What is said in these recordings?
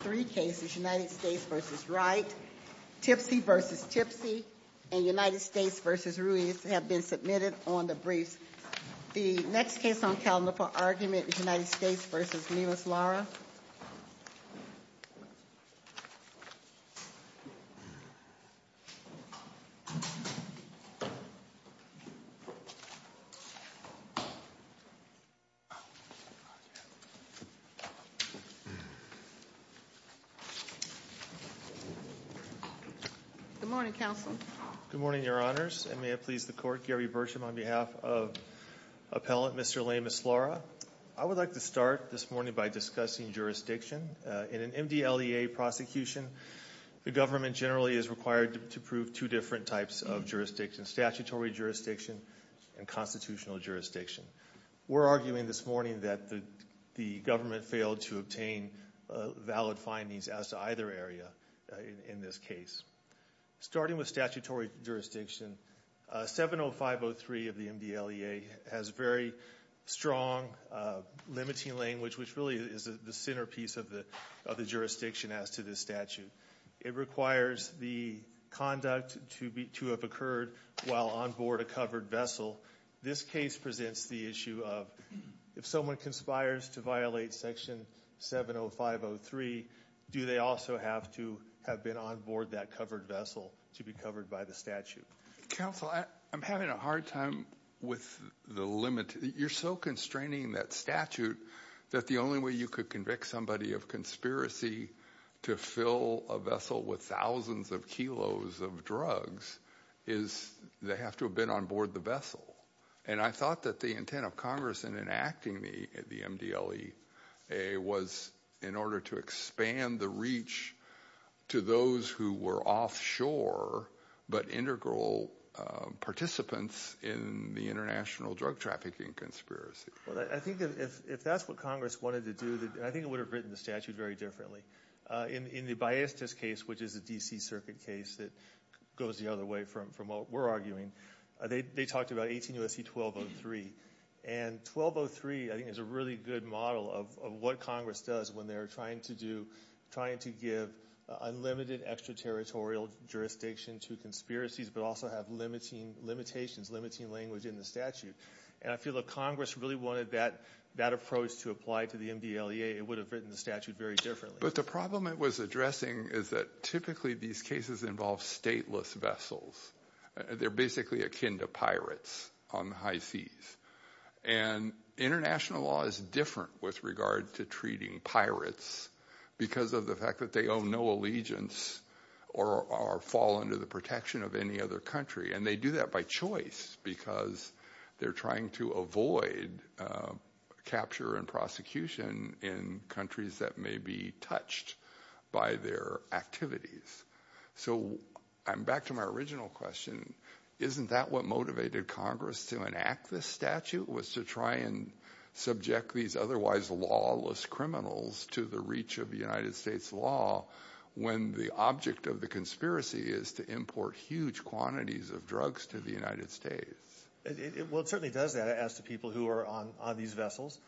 Three cases, United States v. Wright, Tipsy v. Tipsy, and United States v. Ruiz have been submitted on the briefs. The next case on calendar for argument is United States v. Lemus-Lara. Good morning, Counsel. Good morning, Your Honors, and may it please the Court, Gary Bersham on behalf of Appellant Mr. Lemus-Lara. I would like to start this morning by discussing jurisdiction. In an MDLEA prosecution, the government generally is required to prove two different types of jurisdiction, statutory jurisdiction and constitutional jurisdiction. We're arguing this morning that the government failed to obtain valid findings as to either area in this case. Starting with statutory jurisdiction, 70503 of the MDLEA has very strong limiting language, which really is the centerpiece of the jurisdiction as to this statute. It requires the conduct to have occurred while on board a covered vessel. This case presents the issue of if someone conspires to violate section 70503, do they also have to have been on board that covered vessel to be covered by the statute? Counsel, I'm having a hard time with the limit. You're so constraining that statute that the only way you could convict somebody of conspiracy to fill a vessel with thousands of kilos of drugs is they have to have been on board the vessel. I thought that the intent of Congress in enacting the MDLEA was in order to expand the reach to those who were offshore but integral participants in the international drug trafficking conspiracy. I think if that's what Congress wanted to do, I think it would have written the statute very differently. In the Biestas case, which is a D.C. circuit case that goes the other way from what we're arguing, they talked about 18 U.S.C. 1203. 1203, I think, is a really good model of what Congress does when they're trying to give unlimited extraterritorial jurisdiction to conspiracies but also have limitations, limiting language in the statute. I feel if Congress really wanted that approach to apply to the MDLEA, it would have written the statute very differently. But the problem it was addressing is that typically these cases involve stateless vessels. They're basically akin to pirates on the high seas. And international law is different with regard to treating pirates because of the fact that they owe no allegiance or fall under the protection of any other country. And they do that by choice because they're trying to avoid capture and prosecution in countries that may be touched by their activities. So I'm back to my original question. Isn't that what motivated Congress to enact this statute was to try and subject these otherwise lawless criminals to the reach of the United States law when the object of the conspiracy is to import huge quantities of drugs to the United States? Well, it certainly does that as to people who are on these vessels.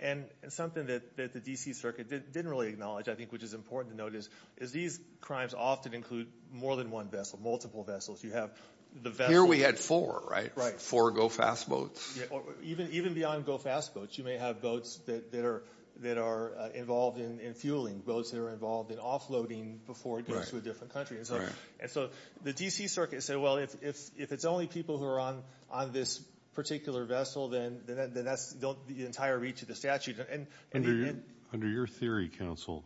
And something that the D.C. circuit didn't really acknowledge, I think, which is important to note, is these crimes often include more than one vessel, multiple vessels. You have the vessel. Here we had four, right? Right. Four go-fast boats. Even beyond go-fast boats, you may have boats that are involved in fueling, boats that are involved in offloading before it goes to a different country. And so the D.C. circuit said, well, if it's only people who are on this particular vessel, then that's the entire reach of the statute. Under your theory, counsel,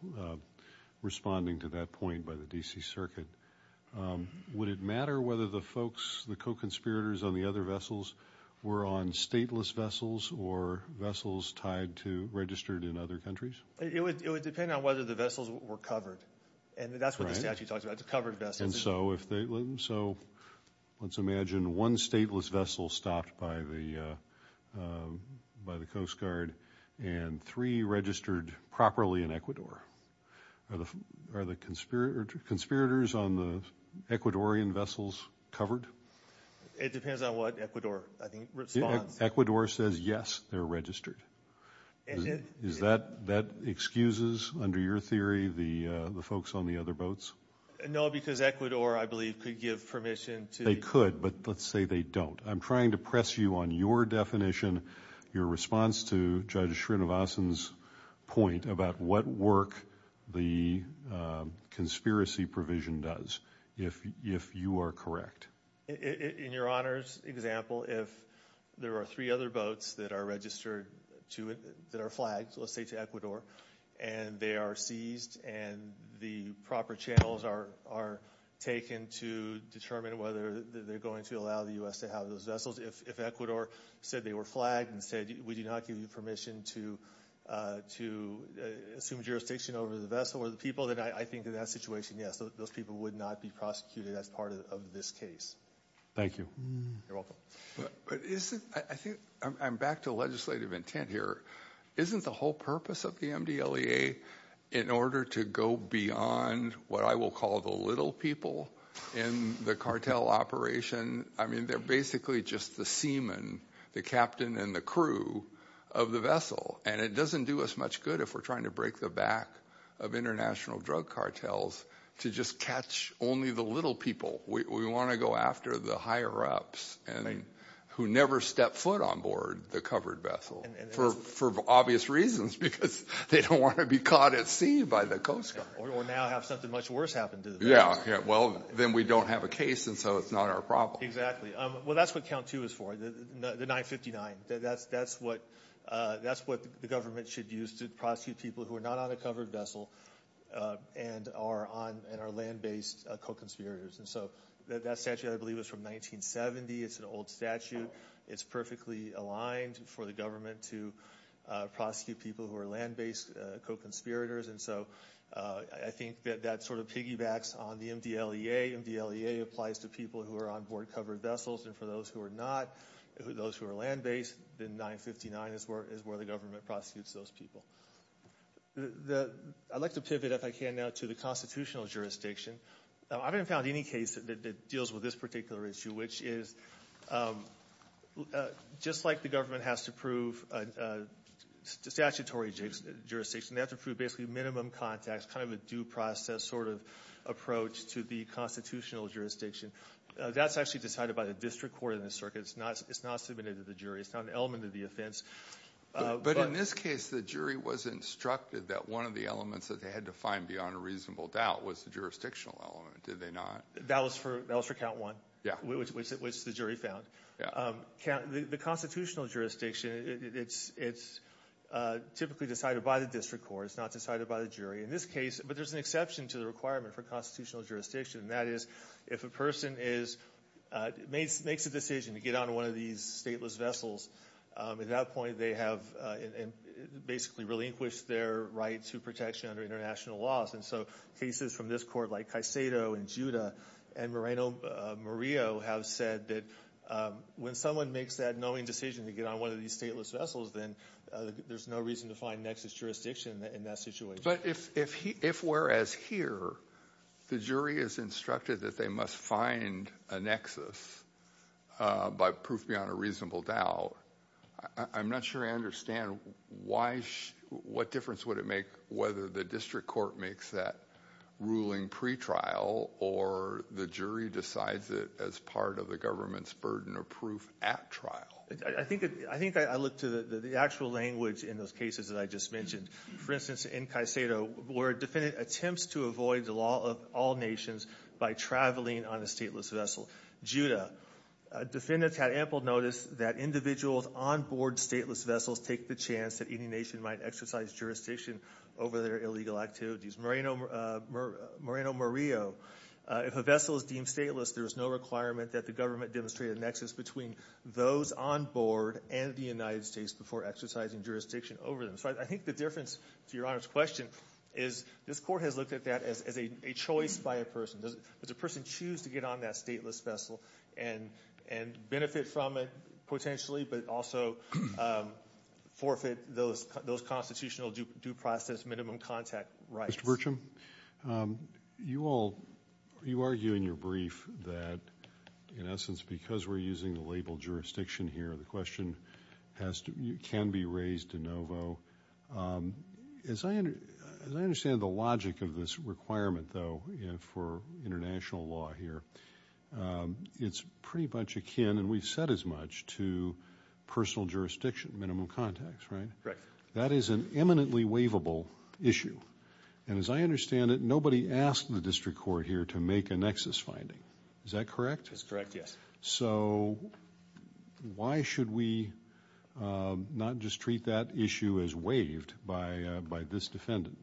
responding to that point by the D.C. circuit, would it matter whether the folks, the co-conspirators on the other vessels were on stateless vessels or vessels tied to, registered in other countries? It would depend on whether the vessels were covered. And that's what the statute talks about, the covered vessels. So let's imagine one stateless vessel stopped by the Coast Guard and three registered properly in Ecuador. Are the conspirators on the Ecuadorian vessels covered? It depends on what Ecuador, I think, responds. Ecuador says, yes, they're registered. That excuses, under your theory, the folks on the other boats? No, because Ecuador, I believe, could give permission to – They could, but let's say they don't. I'm trying to press you on your definition, your response to Judge Srinivasan's point about what work the conspiracy provision does, if you are correct. In your Honor's example, if there are three other boats that are registered to – that are flagged, let's say to Ecuador, and they are seized and the proper channels are taken to determine whether they're going to allow the U.S. to have those vessels. If Ecuador said they were flagged and said, we do not give you permission to assume jurisdiction over the vessel or the people, then I think in that situation, yes, those people would not be prosecuted as part of this case. Thank you. You're welcome. I think I'm back to legislative intent here. Isn't the whole purpose of the MDLEA in order to go beyond what I will call the little people in the cartel operation? I mean they're basically just the seaman, the captain and the crew of the vessel. And it doesn't do us much good if we're trying to break the back of international drug cartels to just catch only the little people. We want to go after the higher-ups who never stepped foot on board the covered vessel for obvious reasons because they don't want to be caught at sea by the Coast Guard. Or now have something much worse happen to them. Yeah, well, then we don't have a case and so it's not our problem. Exactly. Well, that's what count two is for, the 959. That's what the government should use to prosecute people who are not on a covered vessel and are land-based co-conspirators. And so that statute, I believe, is from 1970. It's an old statute. It's perfectly aligned for the government to prosecute people who are land-based co-conspirators. And so I think that that sort of piggybacks on the MDLEA. MDLEA applies to people who are on board covered vessels. And for those who are not, those who are land-based, then 959 is where the government prosecutes those people. I'd like to pivot, if I can, now to the constitutional jurisdiction. I haven't found any case that deals with this particular issue, which is just like the government has to prove statutory jurisdiction, they have to prove basically minimum context, kind of a due process sort of approach to the constitutional jurisdiction. That's actually decided by the district court in this circuit. It's not submitted to the jury. It's not an element of the offense. But in this case, the jury was instructed that one of the elements that they had to find beyond a reasonable doubt was the jurisdictional element. Did they not? That was for count one, which the jury found. The constitutional jurisdiction, it's typically decided by the district court. It's not decided by the jury. In this case, but there's an exception to the requirement for constitutional jurisdiction. That is, if a person makes a decision to get on one of these stateless vessels, at that point, they have basically relinquished their right to protection under international laws. And so cases from this court, like Caicedo and Giuda and Moreno-Murillo, have said that when someone makes that knowing decision to get on one of these stateless vessels, then there's no reason to find nexus jurisdiction in that situation. But if whereas here, the jury is instructed that they must find a nexus by proof beyond a reasonable doubt, I'm not sure I understand what difference would it make whether the district court makes that ruling pretrial or the jury decides it as part of the government's burden of proof at trial. I think I look to the actual language in those cases that I just mentioned. For instance, in Caicedo, where a defendant attempts to avoid the law of all nations by traveling on a stateless vessel. Giuda, defendants had ample notice that individuals on board stateless vessels take the chance that any nation might exercise jurisdiction over their illegal activities. Moreno-Murillo, if a vessel is deemed stateless, there is no requirement that the government demonstrate a nexus between those on board and the United States before exercising jurisdiction over them. So I think the difference, to Your Honor's question, is this court has looked at that as a choice by a person. Does a person choose to get on that stateless vessel and benefit from it potentially, but also forfeit those constitutional due process minimum contact rights? Mr. Burcham, you all, you argue in your brief that in essence because we're using the label jurisdiction here, the question can be raised de novo. As I understand the logic of this requirement, though, for international law here, it's pretty much akin, and we've said as much, to personal jurisdiction minimum contacts, right? Correct. That is an eminently waivable issue. And as I understand it, nobody asked the district court here to make a nexus finding. Is that correct? That's correct, yes. So why should we not just treat that issue as waived by this defendant?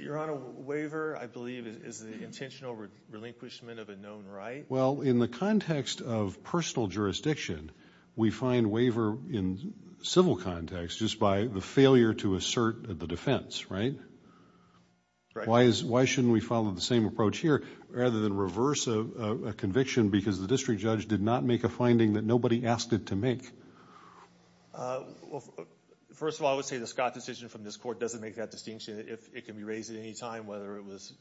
Your Honor, waiver, I believe, is the intentional relinquishment of a known right. Well, in the context of personal jurisdiction, we find waiver in civil context just by the failure to assert the defense, right? Right. Why shouldn't we follow the same approach here rather than reverse a conviction because the district judge did not make a finding that nobody asked it to make? First of all, I would say the Scott decision from this court doesn't make that distinction. If it can be raised at any time, whether it was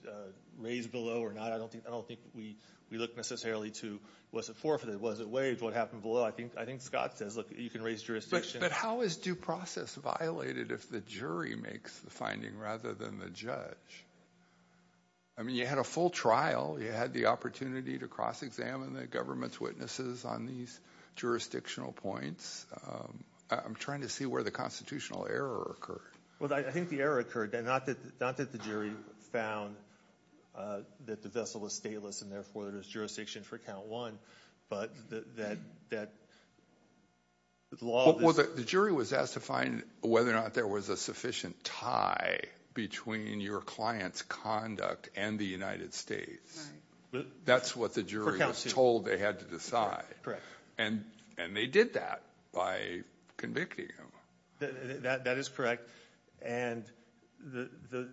raised below or not, I don't think we look necessarily to was it forfeited, was it waived, what happened below. I think Scott says, look, you can raise jurisdiction. But how is due process violated if the jury makes the finding rather than the judge? I mean, you had a full trial. You had the opportunity to cross-examine the government's witnesses on these jurisdictional points. I'm trying to see where the constitutional error occurred. Well, I think the error occurred, not that the jury found that the vessel was stateless and, therefore, there's jurisdiction for count one, but that the law of this. The jury was asked to find whether or not there was a sufficient tie between your client's conduct and the United States. That's what the jury was told they had to decide. Correct. And they did that by convicting him. That is correct. And the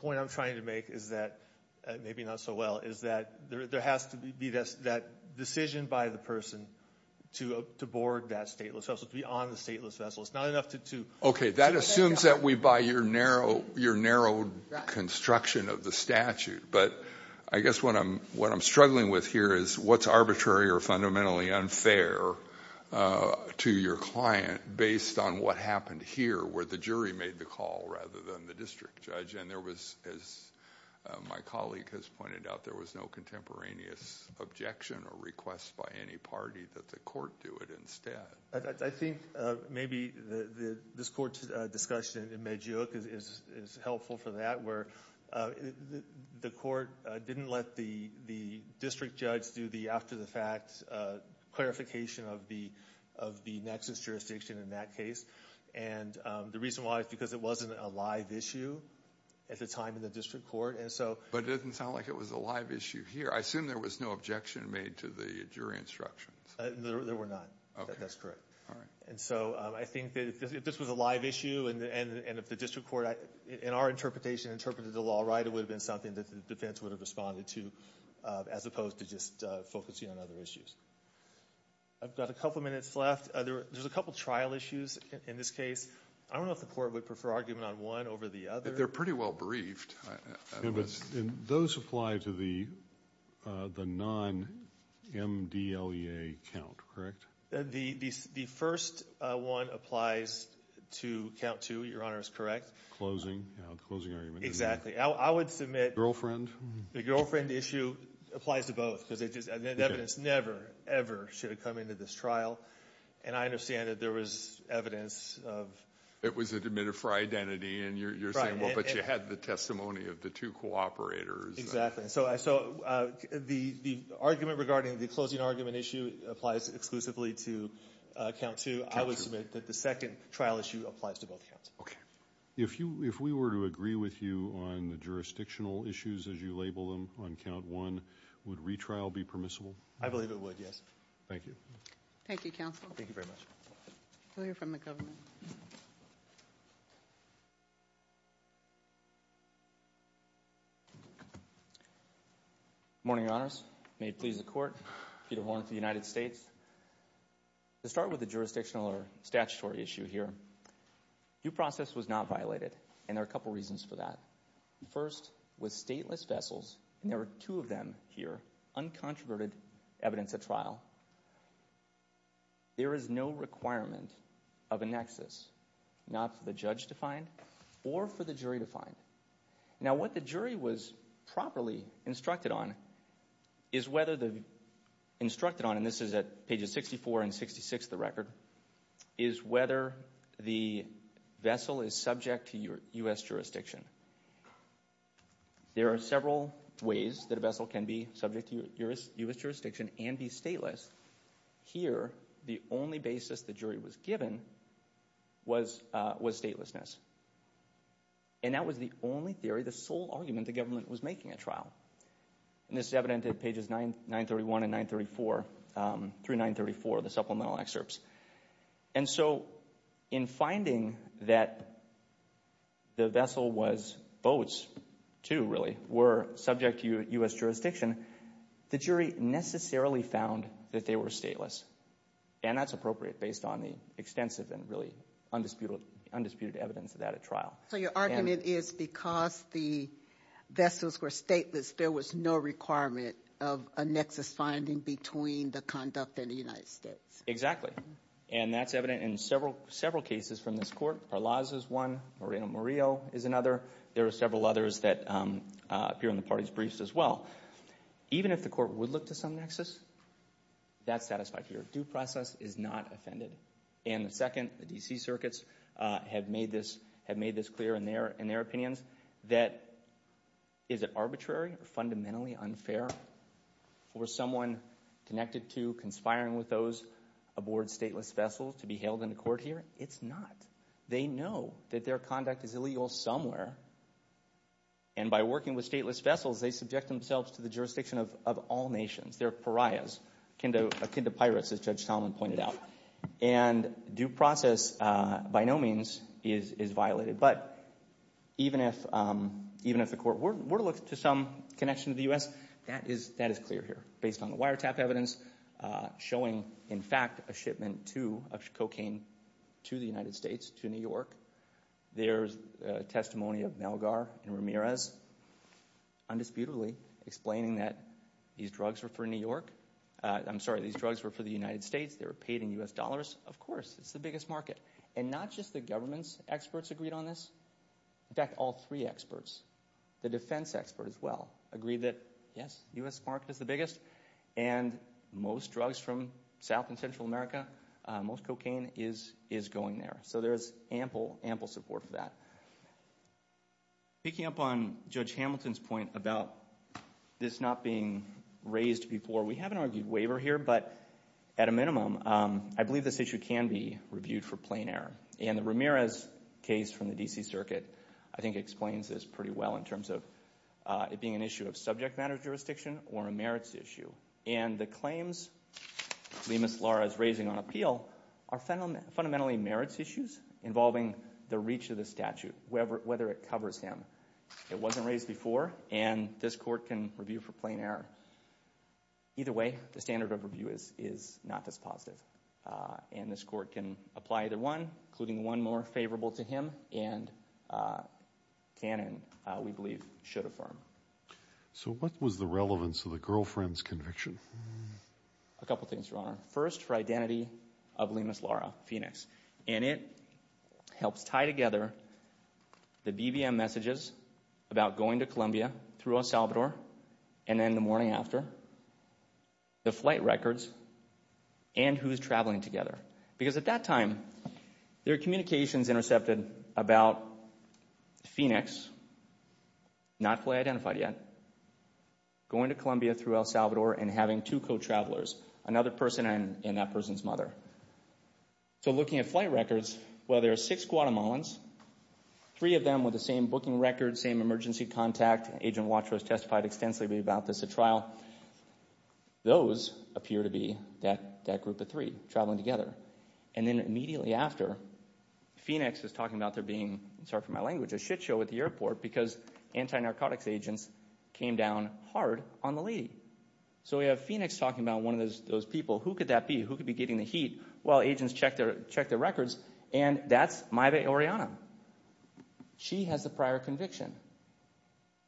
point I'm trying to make is that, maybe not so well, is that there has to be that decision by the person to board that stateless vessel, to be on the stateless vessel. It's not enough to... Okay, that assumes that we buy your narrow construction of the statute. But I guess what I'm struggling with here is what's arbitrary or fundamentally unfair to your client based on what happened here where the jury made the call rather than the district judge. And there was, as my colleague has pointed out, there was no contemporaneous objection or request by any party that the court do it instead. I think maybe this court discussion in Medioc is helpful for that, where the court didn't let the district judge do the after-the-fact clarification of the nexus jurisdiction in that case. And the reason why is because it wasn't a live issue at the time in the district court. But it doesn't sound like it was a live issue here. I assume there was no objection made to the jury instructions. There were none. Okay. That's correct. All right. And so I think that if this was a live issue and if the district court, in our interpretation, interpreted the law right, it would have been something that the defense would have responded to as opposed to just focusing on other issues. I've got a couple minutes left. There's a couple trial issues in this case. I don't know if the court would prefer argument on one over the other. They're pretty well-briefed. And those apply to the non-MDLEA count, correct? The first one applies to count two, Your Honor, is correct. Closing argument. Exactly. I would submit the girlfriend issue applies to both because evidence never, ever should have come into this trial. And I understand that there was evidence of ---- It was admitted for identity, and you're saying, well, but you had the testimony of the two cooperators. Exactly. So the argument regarding the closing argument issue applies exclusively to count two. I would submit that the second trial issue applies to both counts. Okay. If we were to agree with you on the jurisdictional issues as you label them on count one, would retrial be permissible? I believe it would, yes. Thank you. Thank you, counsel. Thank you very much. We'll hear from the government. Good morning, Your Honors. May it please the court, Peter Horn for the United States. To start with the jurisdictional or statutory issue here, due process was not violated, and there are a couple reasons for that. First, with stateless vessels, and there are two of them here, uncontroverted evidence at trial, there is no requirement of a nexus, not for the judge to find or for the jury to find. Now, what the jury was properly instructed on is whether the, instructed on, and this is at pages 64 and 66 of the record, is whether the vessel is subject to U.S. jurisdiction. There are several ways that a vessel can be subject to U.S. jurisdiction and be stateless. Here, the only basis the jury was given was statelessness. And that was the only theory, the sole argument the government was making at trial. And this is evident at pages 931 and 934, through 934, the supplemental excerpts. And so, in finding that the vessel was, boats too, really, were subject to U.S. jurisdiction, the jury necessarily found that they were stateless. And that's appropriate based on the extensive and really undisputed evidence of that at trial. So your argument is because the vessels were stateless, there was no requirement of a nexus finding between the conduct and the United States? Exactly. And that's evident in several cases from this court. Parlaz is one. Moreno-Murillo is another. There are several others that appear in the party's briefs as well. Even if the court would look to some nexus, that's satisfied here. Due process is not offended. And second, the D.C. circuits have made this clear in their opinions that is it arbitrary or fundamentally unfair for someone connected to, conspiring with those aboard stateless vessels to be held in a court hearing? It's not. They know that their conduct is illegal somewhere. And by working with stateless vessels, they subject themselves to the jurisdiction of all nations. They're pariahs, akin to pirates, as Judge Solomon pointed out. And due process, by no means, is violated. But even if the court were to look to some connection to the U.S., that is clear here. Based on the wiretap evidence showing, in fact, a shipment of cocaine to the United States, to New York, there's testimony of Malgar and Ramirez, undisputedly, explaining that these drugs were for New York. I'm sorry, these drugs were for the United States. They were paid in U.S. dollars. Of course, it's the biggest market. And not just the government's experts agreed on this. In fact, all three experts, the defense expert as well, agreed that, yes, the U.S. market is the biggest, and most drugs from South and Central America, most cocaine is going there. So there is ample, ample support for that. Picking up on Judge Hamilton's point about this not being raised before, we haven't argued waiver here. But at a minimum, I believe this issue can be reviewed for plain error. And the Ramirez case from the D.C. Circuit, I think, explains this pretty well in terms of it being an issue of subject matter jurisdiction or a merits issue. And the claims Lemus Lara is raising on appeal are fundamentally merits issues involving the reach of the statute, whether it covers him. It wasn't raised before, and this court can review for plain error. Either way, the standard of review is not this positive. And this court can apply either one, including one more favorable to him, and canon, we believe, should affirm. So what was the relevance of the girlfriend's conviction? A couple things, Your Honor. First, for identity of Lemus Lara, Phoenix. And it helps tie together the BBM messages about going to Columbia, through El Salvador, and then the morning after, the flight records, and who's traveling together. Because at that time, there are communications intercepted about Phoenix, not fully identified yet, going to Columbia through El Salvador and having two co-travelers, another person and that person's mother. So looking at flight records, well, there are six Guatemalans, three of them with the same booking record, same emergency contact. Agent Watrous testified extensively about this at trial. Those appear to be that group of three traveling together. And then immediately after, Phoenix is talking about there being, sorry for my language, a shit show at the airport because anti-narcotics agents came down hard on the lady. So we have Phoenix talking about one of those people. Who could that be? Who could be getting the heat? Well, agents checked their records, and that's Maiba Oriana. She has the prior conviction.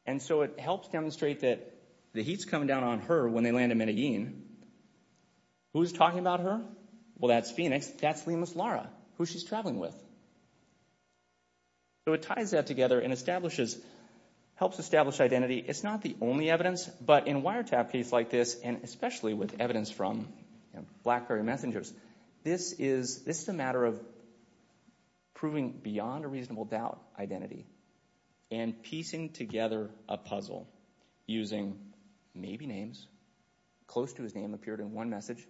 And so it helps demonstrate that the heat's coming down on her when they land in Medellin. Who's talking about her? Well, that's Phoenix. That's Lemus Lara, who she's traveling with. So it ties that together and helps establish identity. It's not the only evidence, but in wiretap case like this, and especially with evidence from Blackberry Messengers, this is a matter of proving beyond a reasonable doubt identity. And piecing together a puzzle using maybe names. Close to his name appeared in one message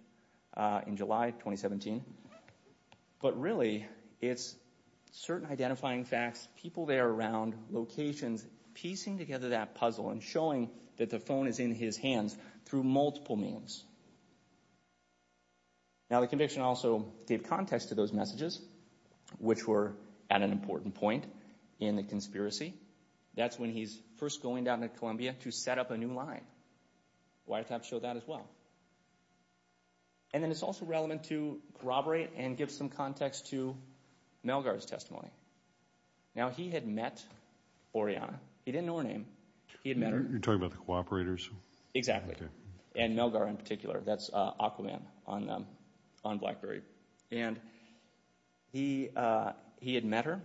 in July 2017. But really, it's certain identifying facts, people there around, locations, piecing together that puzzle and showing that the phone is in his hands through multiple means. Now, the conviction also gave context to those messages, which were at an important point in the conspiracy. That's when he's first going down to Columbia to set up a new line. Wiretap showed that as well. And then it's also relevant to corroborate and give some context to Melgar's testimony. Now, he had met Oriana. He didn't know her name. He had met her. You're talking about the cooperators? Exactly. And Melgar in particular. That's Aquaman on Blackberry. And he had met her.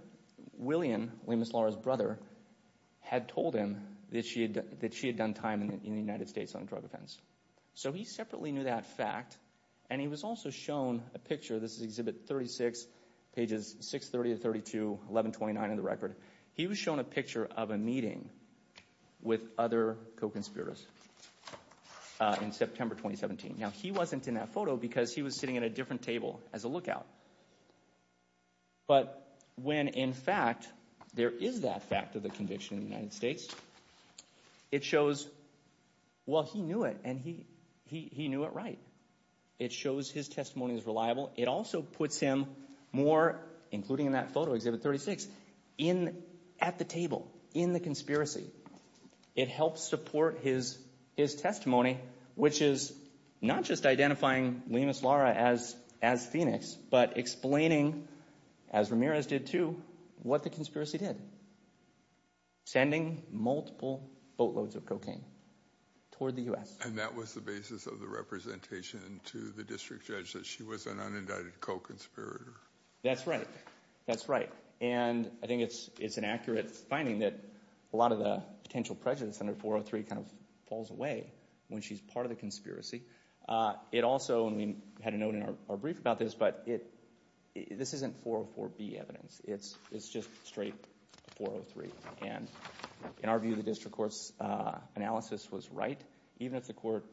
William, Lemus Lara's brother, had told him that she had done time in the United States on drug offense. So he separately knew that fact. And he was also shown a picture. This is Exhibit 36, pages 630 to 32, 1129 in the record. He was shown a picture of a meeting with other co-conspirators in September 2017. Now, he wasn't in that photo because he was sitting at a different table as a lookout. But when, in fact, there is that fact of the conviction in the United States, it shows, well, he knew it, and he knew it right. It shows his testimony is reliable. It also puts him more, including in that photo, Exhibit 36, at the table, in the conspiracy. It helps support his testimony, which is not just identifying Lemus Lara as Phoenix, but explaining, as Ramirez did too, what the conspiracy did. Sending multiple boatloads of cocaine toward the U.S. And that was the basis of the representation to the district judge that she was an unindicted co-conspirator. That's right. That's right. And I think it's an accurate finding that a lot of the potential prejudice under 403 kind of falls away when she's part of the conspiracy. It also, and we had a note in our brief about this, but this isn't 404B evidence. It's just straight 403. And in our view, the district court's analysis was right. Even if the court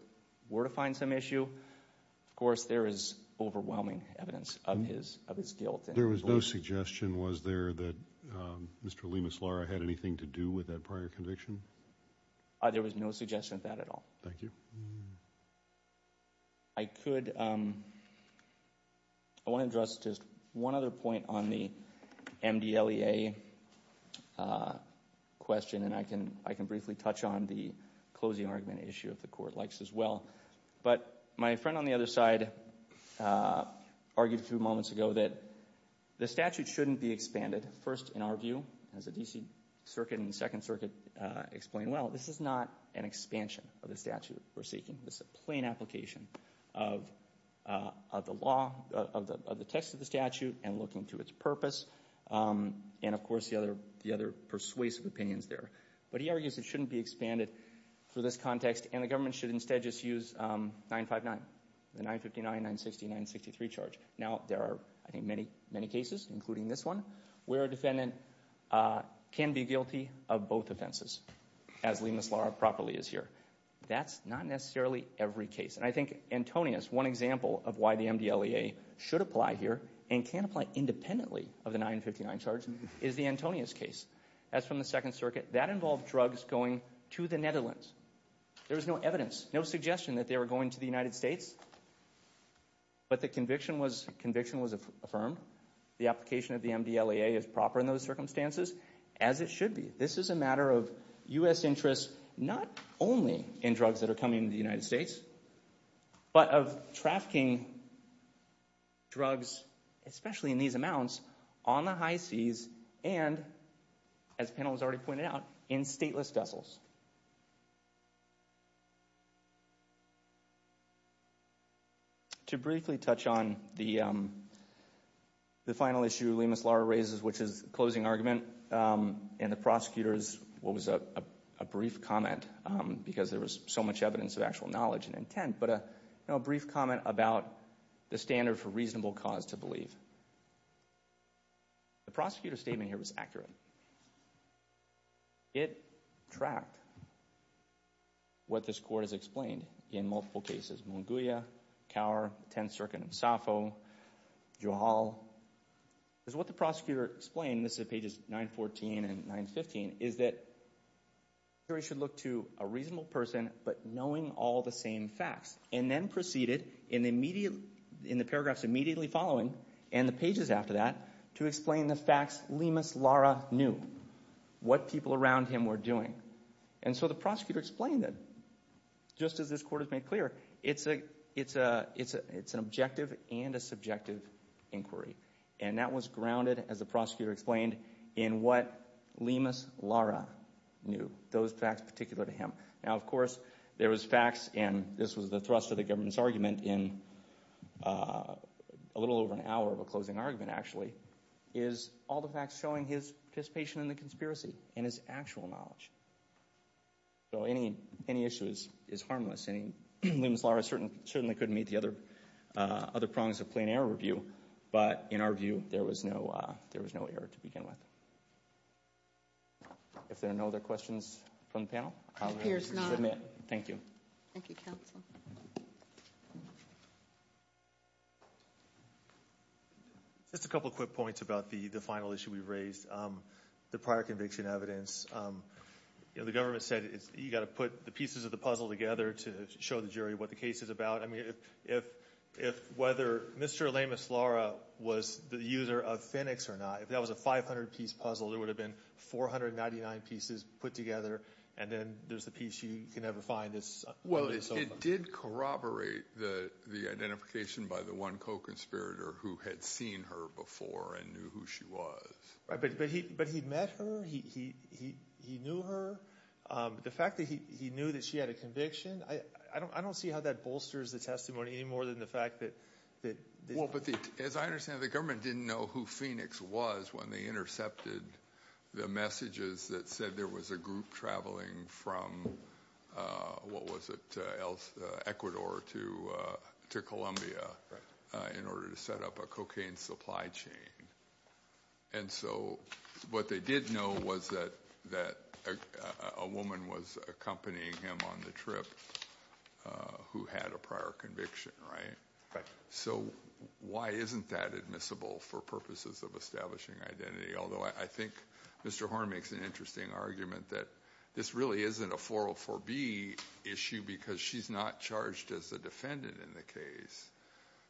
were to find some issue, of course, there is overwhelming evidence of his guilt. There was no suggestion, was there, that Mr. Lemus Lara had anything to do with that prior conviction? There was no suggestion of that at all. Thank you. I could, I want to address just one other point on the MDLEA question. And I can briefly touch on the closing argument issue if the court likes as well. But my friend on the other side argued a few moments ago that the statute shouldn't be expanded. First, in our view, as the D.C. Circuit and the Second Circuit explained well, this is not an expansion of the statute we're seeking. This is a plain application of the law, of the text of the statute, and looking to its purpose, and, of course, the other persuasive opinions there. But he argues it shouldn't be expanded for this context, and the government should instead just use 959, the 959, 960, 963 charge. Now, there are, I think, many, many cases, including this one, where a defendant can be guilty of both offenses, as Lemus Lara properly is here. That's not necessarily every case. And I think Antonius, one example of why the MDLEA should apply here and can apply independently of the 959 charge is the Antonius case. As from the Second Circuit, that involved drugs going to the Netherlands. There was no evidence, no suggestion that they were going to the United States. But the conviction was affirmed. The application of the MDLEA is proper in those circumstances, as it should be. This is a matter of U.S. interests, not only in drugs that are coming to the United States, but of trafficking drugs, especially in these amounts, on the high seas and, as the panel has already pointed out, in stateless vessels. To briefly touch on the final issue Lemus Lara raises, which is the closing argument, and the prosecutor's, what was a brief comment, because there was so much evidence of actual knowledge and intent, but a brief comment about the standard for reasonable cause to believe. The prosecutor's statement here was accurate. It tracked what this Court has explained in multiple cases. Monguia, Kaur, the Tenth Circuit in Safo, Juhal. What the prosecutor explained, this is pages 914 and 915, is that the jury should look to a reasonable person, but knowing all the same facts, and then proceeded in the paragraphs immediately following, and the pages after that, to explain the facts Lemus Lara knew, what people around him were doing. And so the prosecutor explained that, just as this Court has made clear, it's an objective and a subjective inquiry, and that was grounded, as the prosecutor explained, in what Lemus Lara knew, those facts particular to him. Now, of course, there was facts, and this was the thrust of the government's argument in a little over an hour of a closing argument, actually, is all the facts showing his participation in the conspiracy and his actual knowledge. So any issue is harmless. Lemus Lara certainly couldn't meet the other prongs of plain error review, but in our view, there was no error to begin with. If there are no other questions from the panel, I'll submit. Thank you. Thank you, counsel. Just a couple quick points about the final issue we've raised, the prior conviction evidence. The government said you've got to put the pieces of the puzzle together to show the jury what the case is about. I mean, if whether Mr. Lemus Lara was the user of Phoenix or not, if that was a 500-piece puzzle, there would have been 499 pieces put together, and then there's the piece you can never find. Well, it did corroborate the identification by the one co-conspirator who had seen her before and knew who she was. But he met her. He knew her. The fact that he knew that she had a conviction, I don't see how that bolsters the testimony any more than the fact that the – Well, but as I understand it, the government didn't know who Phoenix was when they intercepted the messages that said there was a group traveling from, what was it, Ecuador to Colombia in order to set up a cocaine supply chain. And so what they did know was that a woman was accompanying him on the trip who had a prior conviction, right? So why isn't that admissible for purposes of establishing identity? Although I think Mr. Horn makes an interesting argument that this really isn't a 404B issue because she's not charged as a defendant in the case.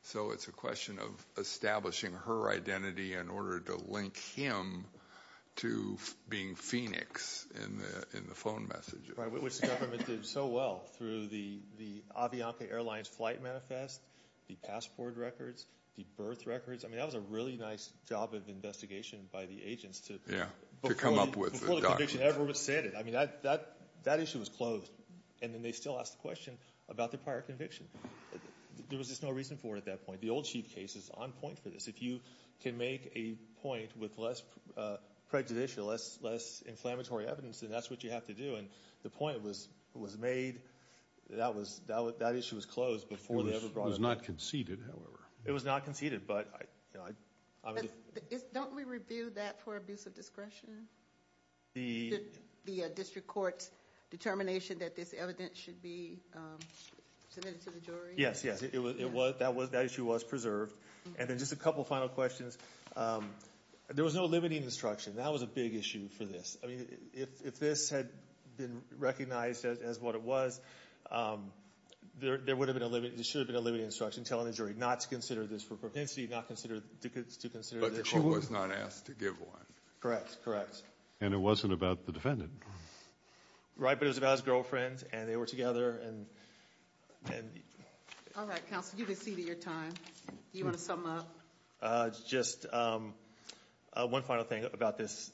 So it's a question of establishing her identity in order to link him to being Phoenix in the phone messages. Right, which the government did so well through the Avianca Airlines flight manifest, the passport records, the birth records. I mean, that was a really nice job of investigation by the agents before the conviction ever was stated. I mean, that issue was closed, and then they still asked the question about the prior conviction. There was just no reason for it at that point. The old chief case is on point for this. If you can make a point with less prejudicial, less inflammatory evidence, then that's what you have to do. And the point was made that that issue was closed before they ever brought it up. It was not conceded, however. It was not conceded. Don't we review that for abuse of discretion? The district court's determination that this evidence should be submitted to the jury? Yes, yes. That issue was preserved. And then just a couple final questions. There was no limiting instruction. That was a big issue for this. I mean, if this had been recognized as what it was, there would have been a limit. There should have been a limiting instruction telling the jury not to consider this for propensity, not to consider this. But the court was not asked to give one. Correct, correct. And it wasn't about the defendant. Right, but it was about his girlfriend, and they were together. All right, counsel, you've exceeded your time. Do you want to sum up? Just one final thing about this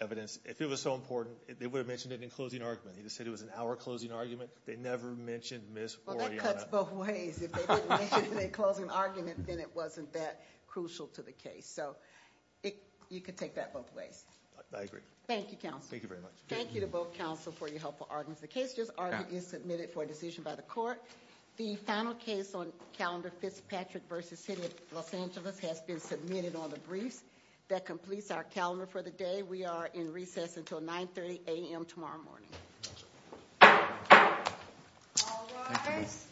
evidence. If it was so important, they would have mentioned it in closing argument. They just said it was an hour closing argument. They never mentioned Ms. Oriana. Well, that cuts both ways. If they didn't mention it in a closing argument, then it wasn't that crucial to the case. So you can take that both ways. I agree. Thank you, counsel. Thank you very much. Thank you to both counsel for your helpful arguments. The case just argued is submitted for a decision by the court. The final case on calendar Fitzpatrick v. City of Los Angeles has been submitted on the briefs. That completes our calendar for the day. We are in recess until 9.30 a.m. tomorrow morning. Thank you. All rise.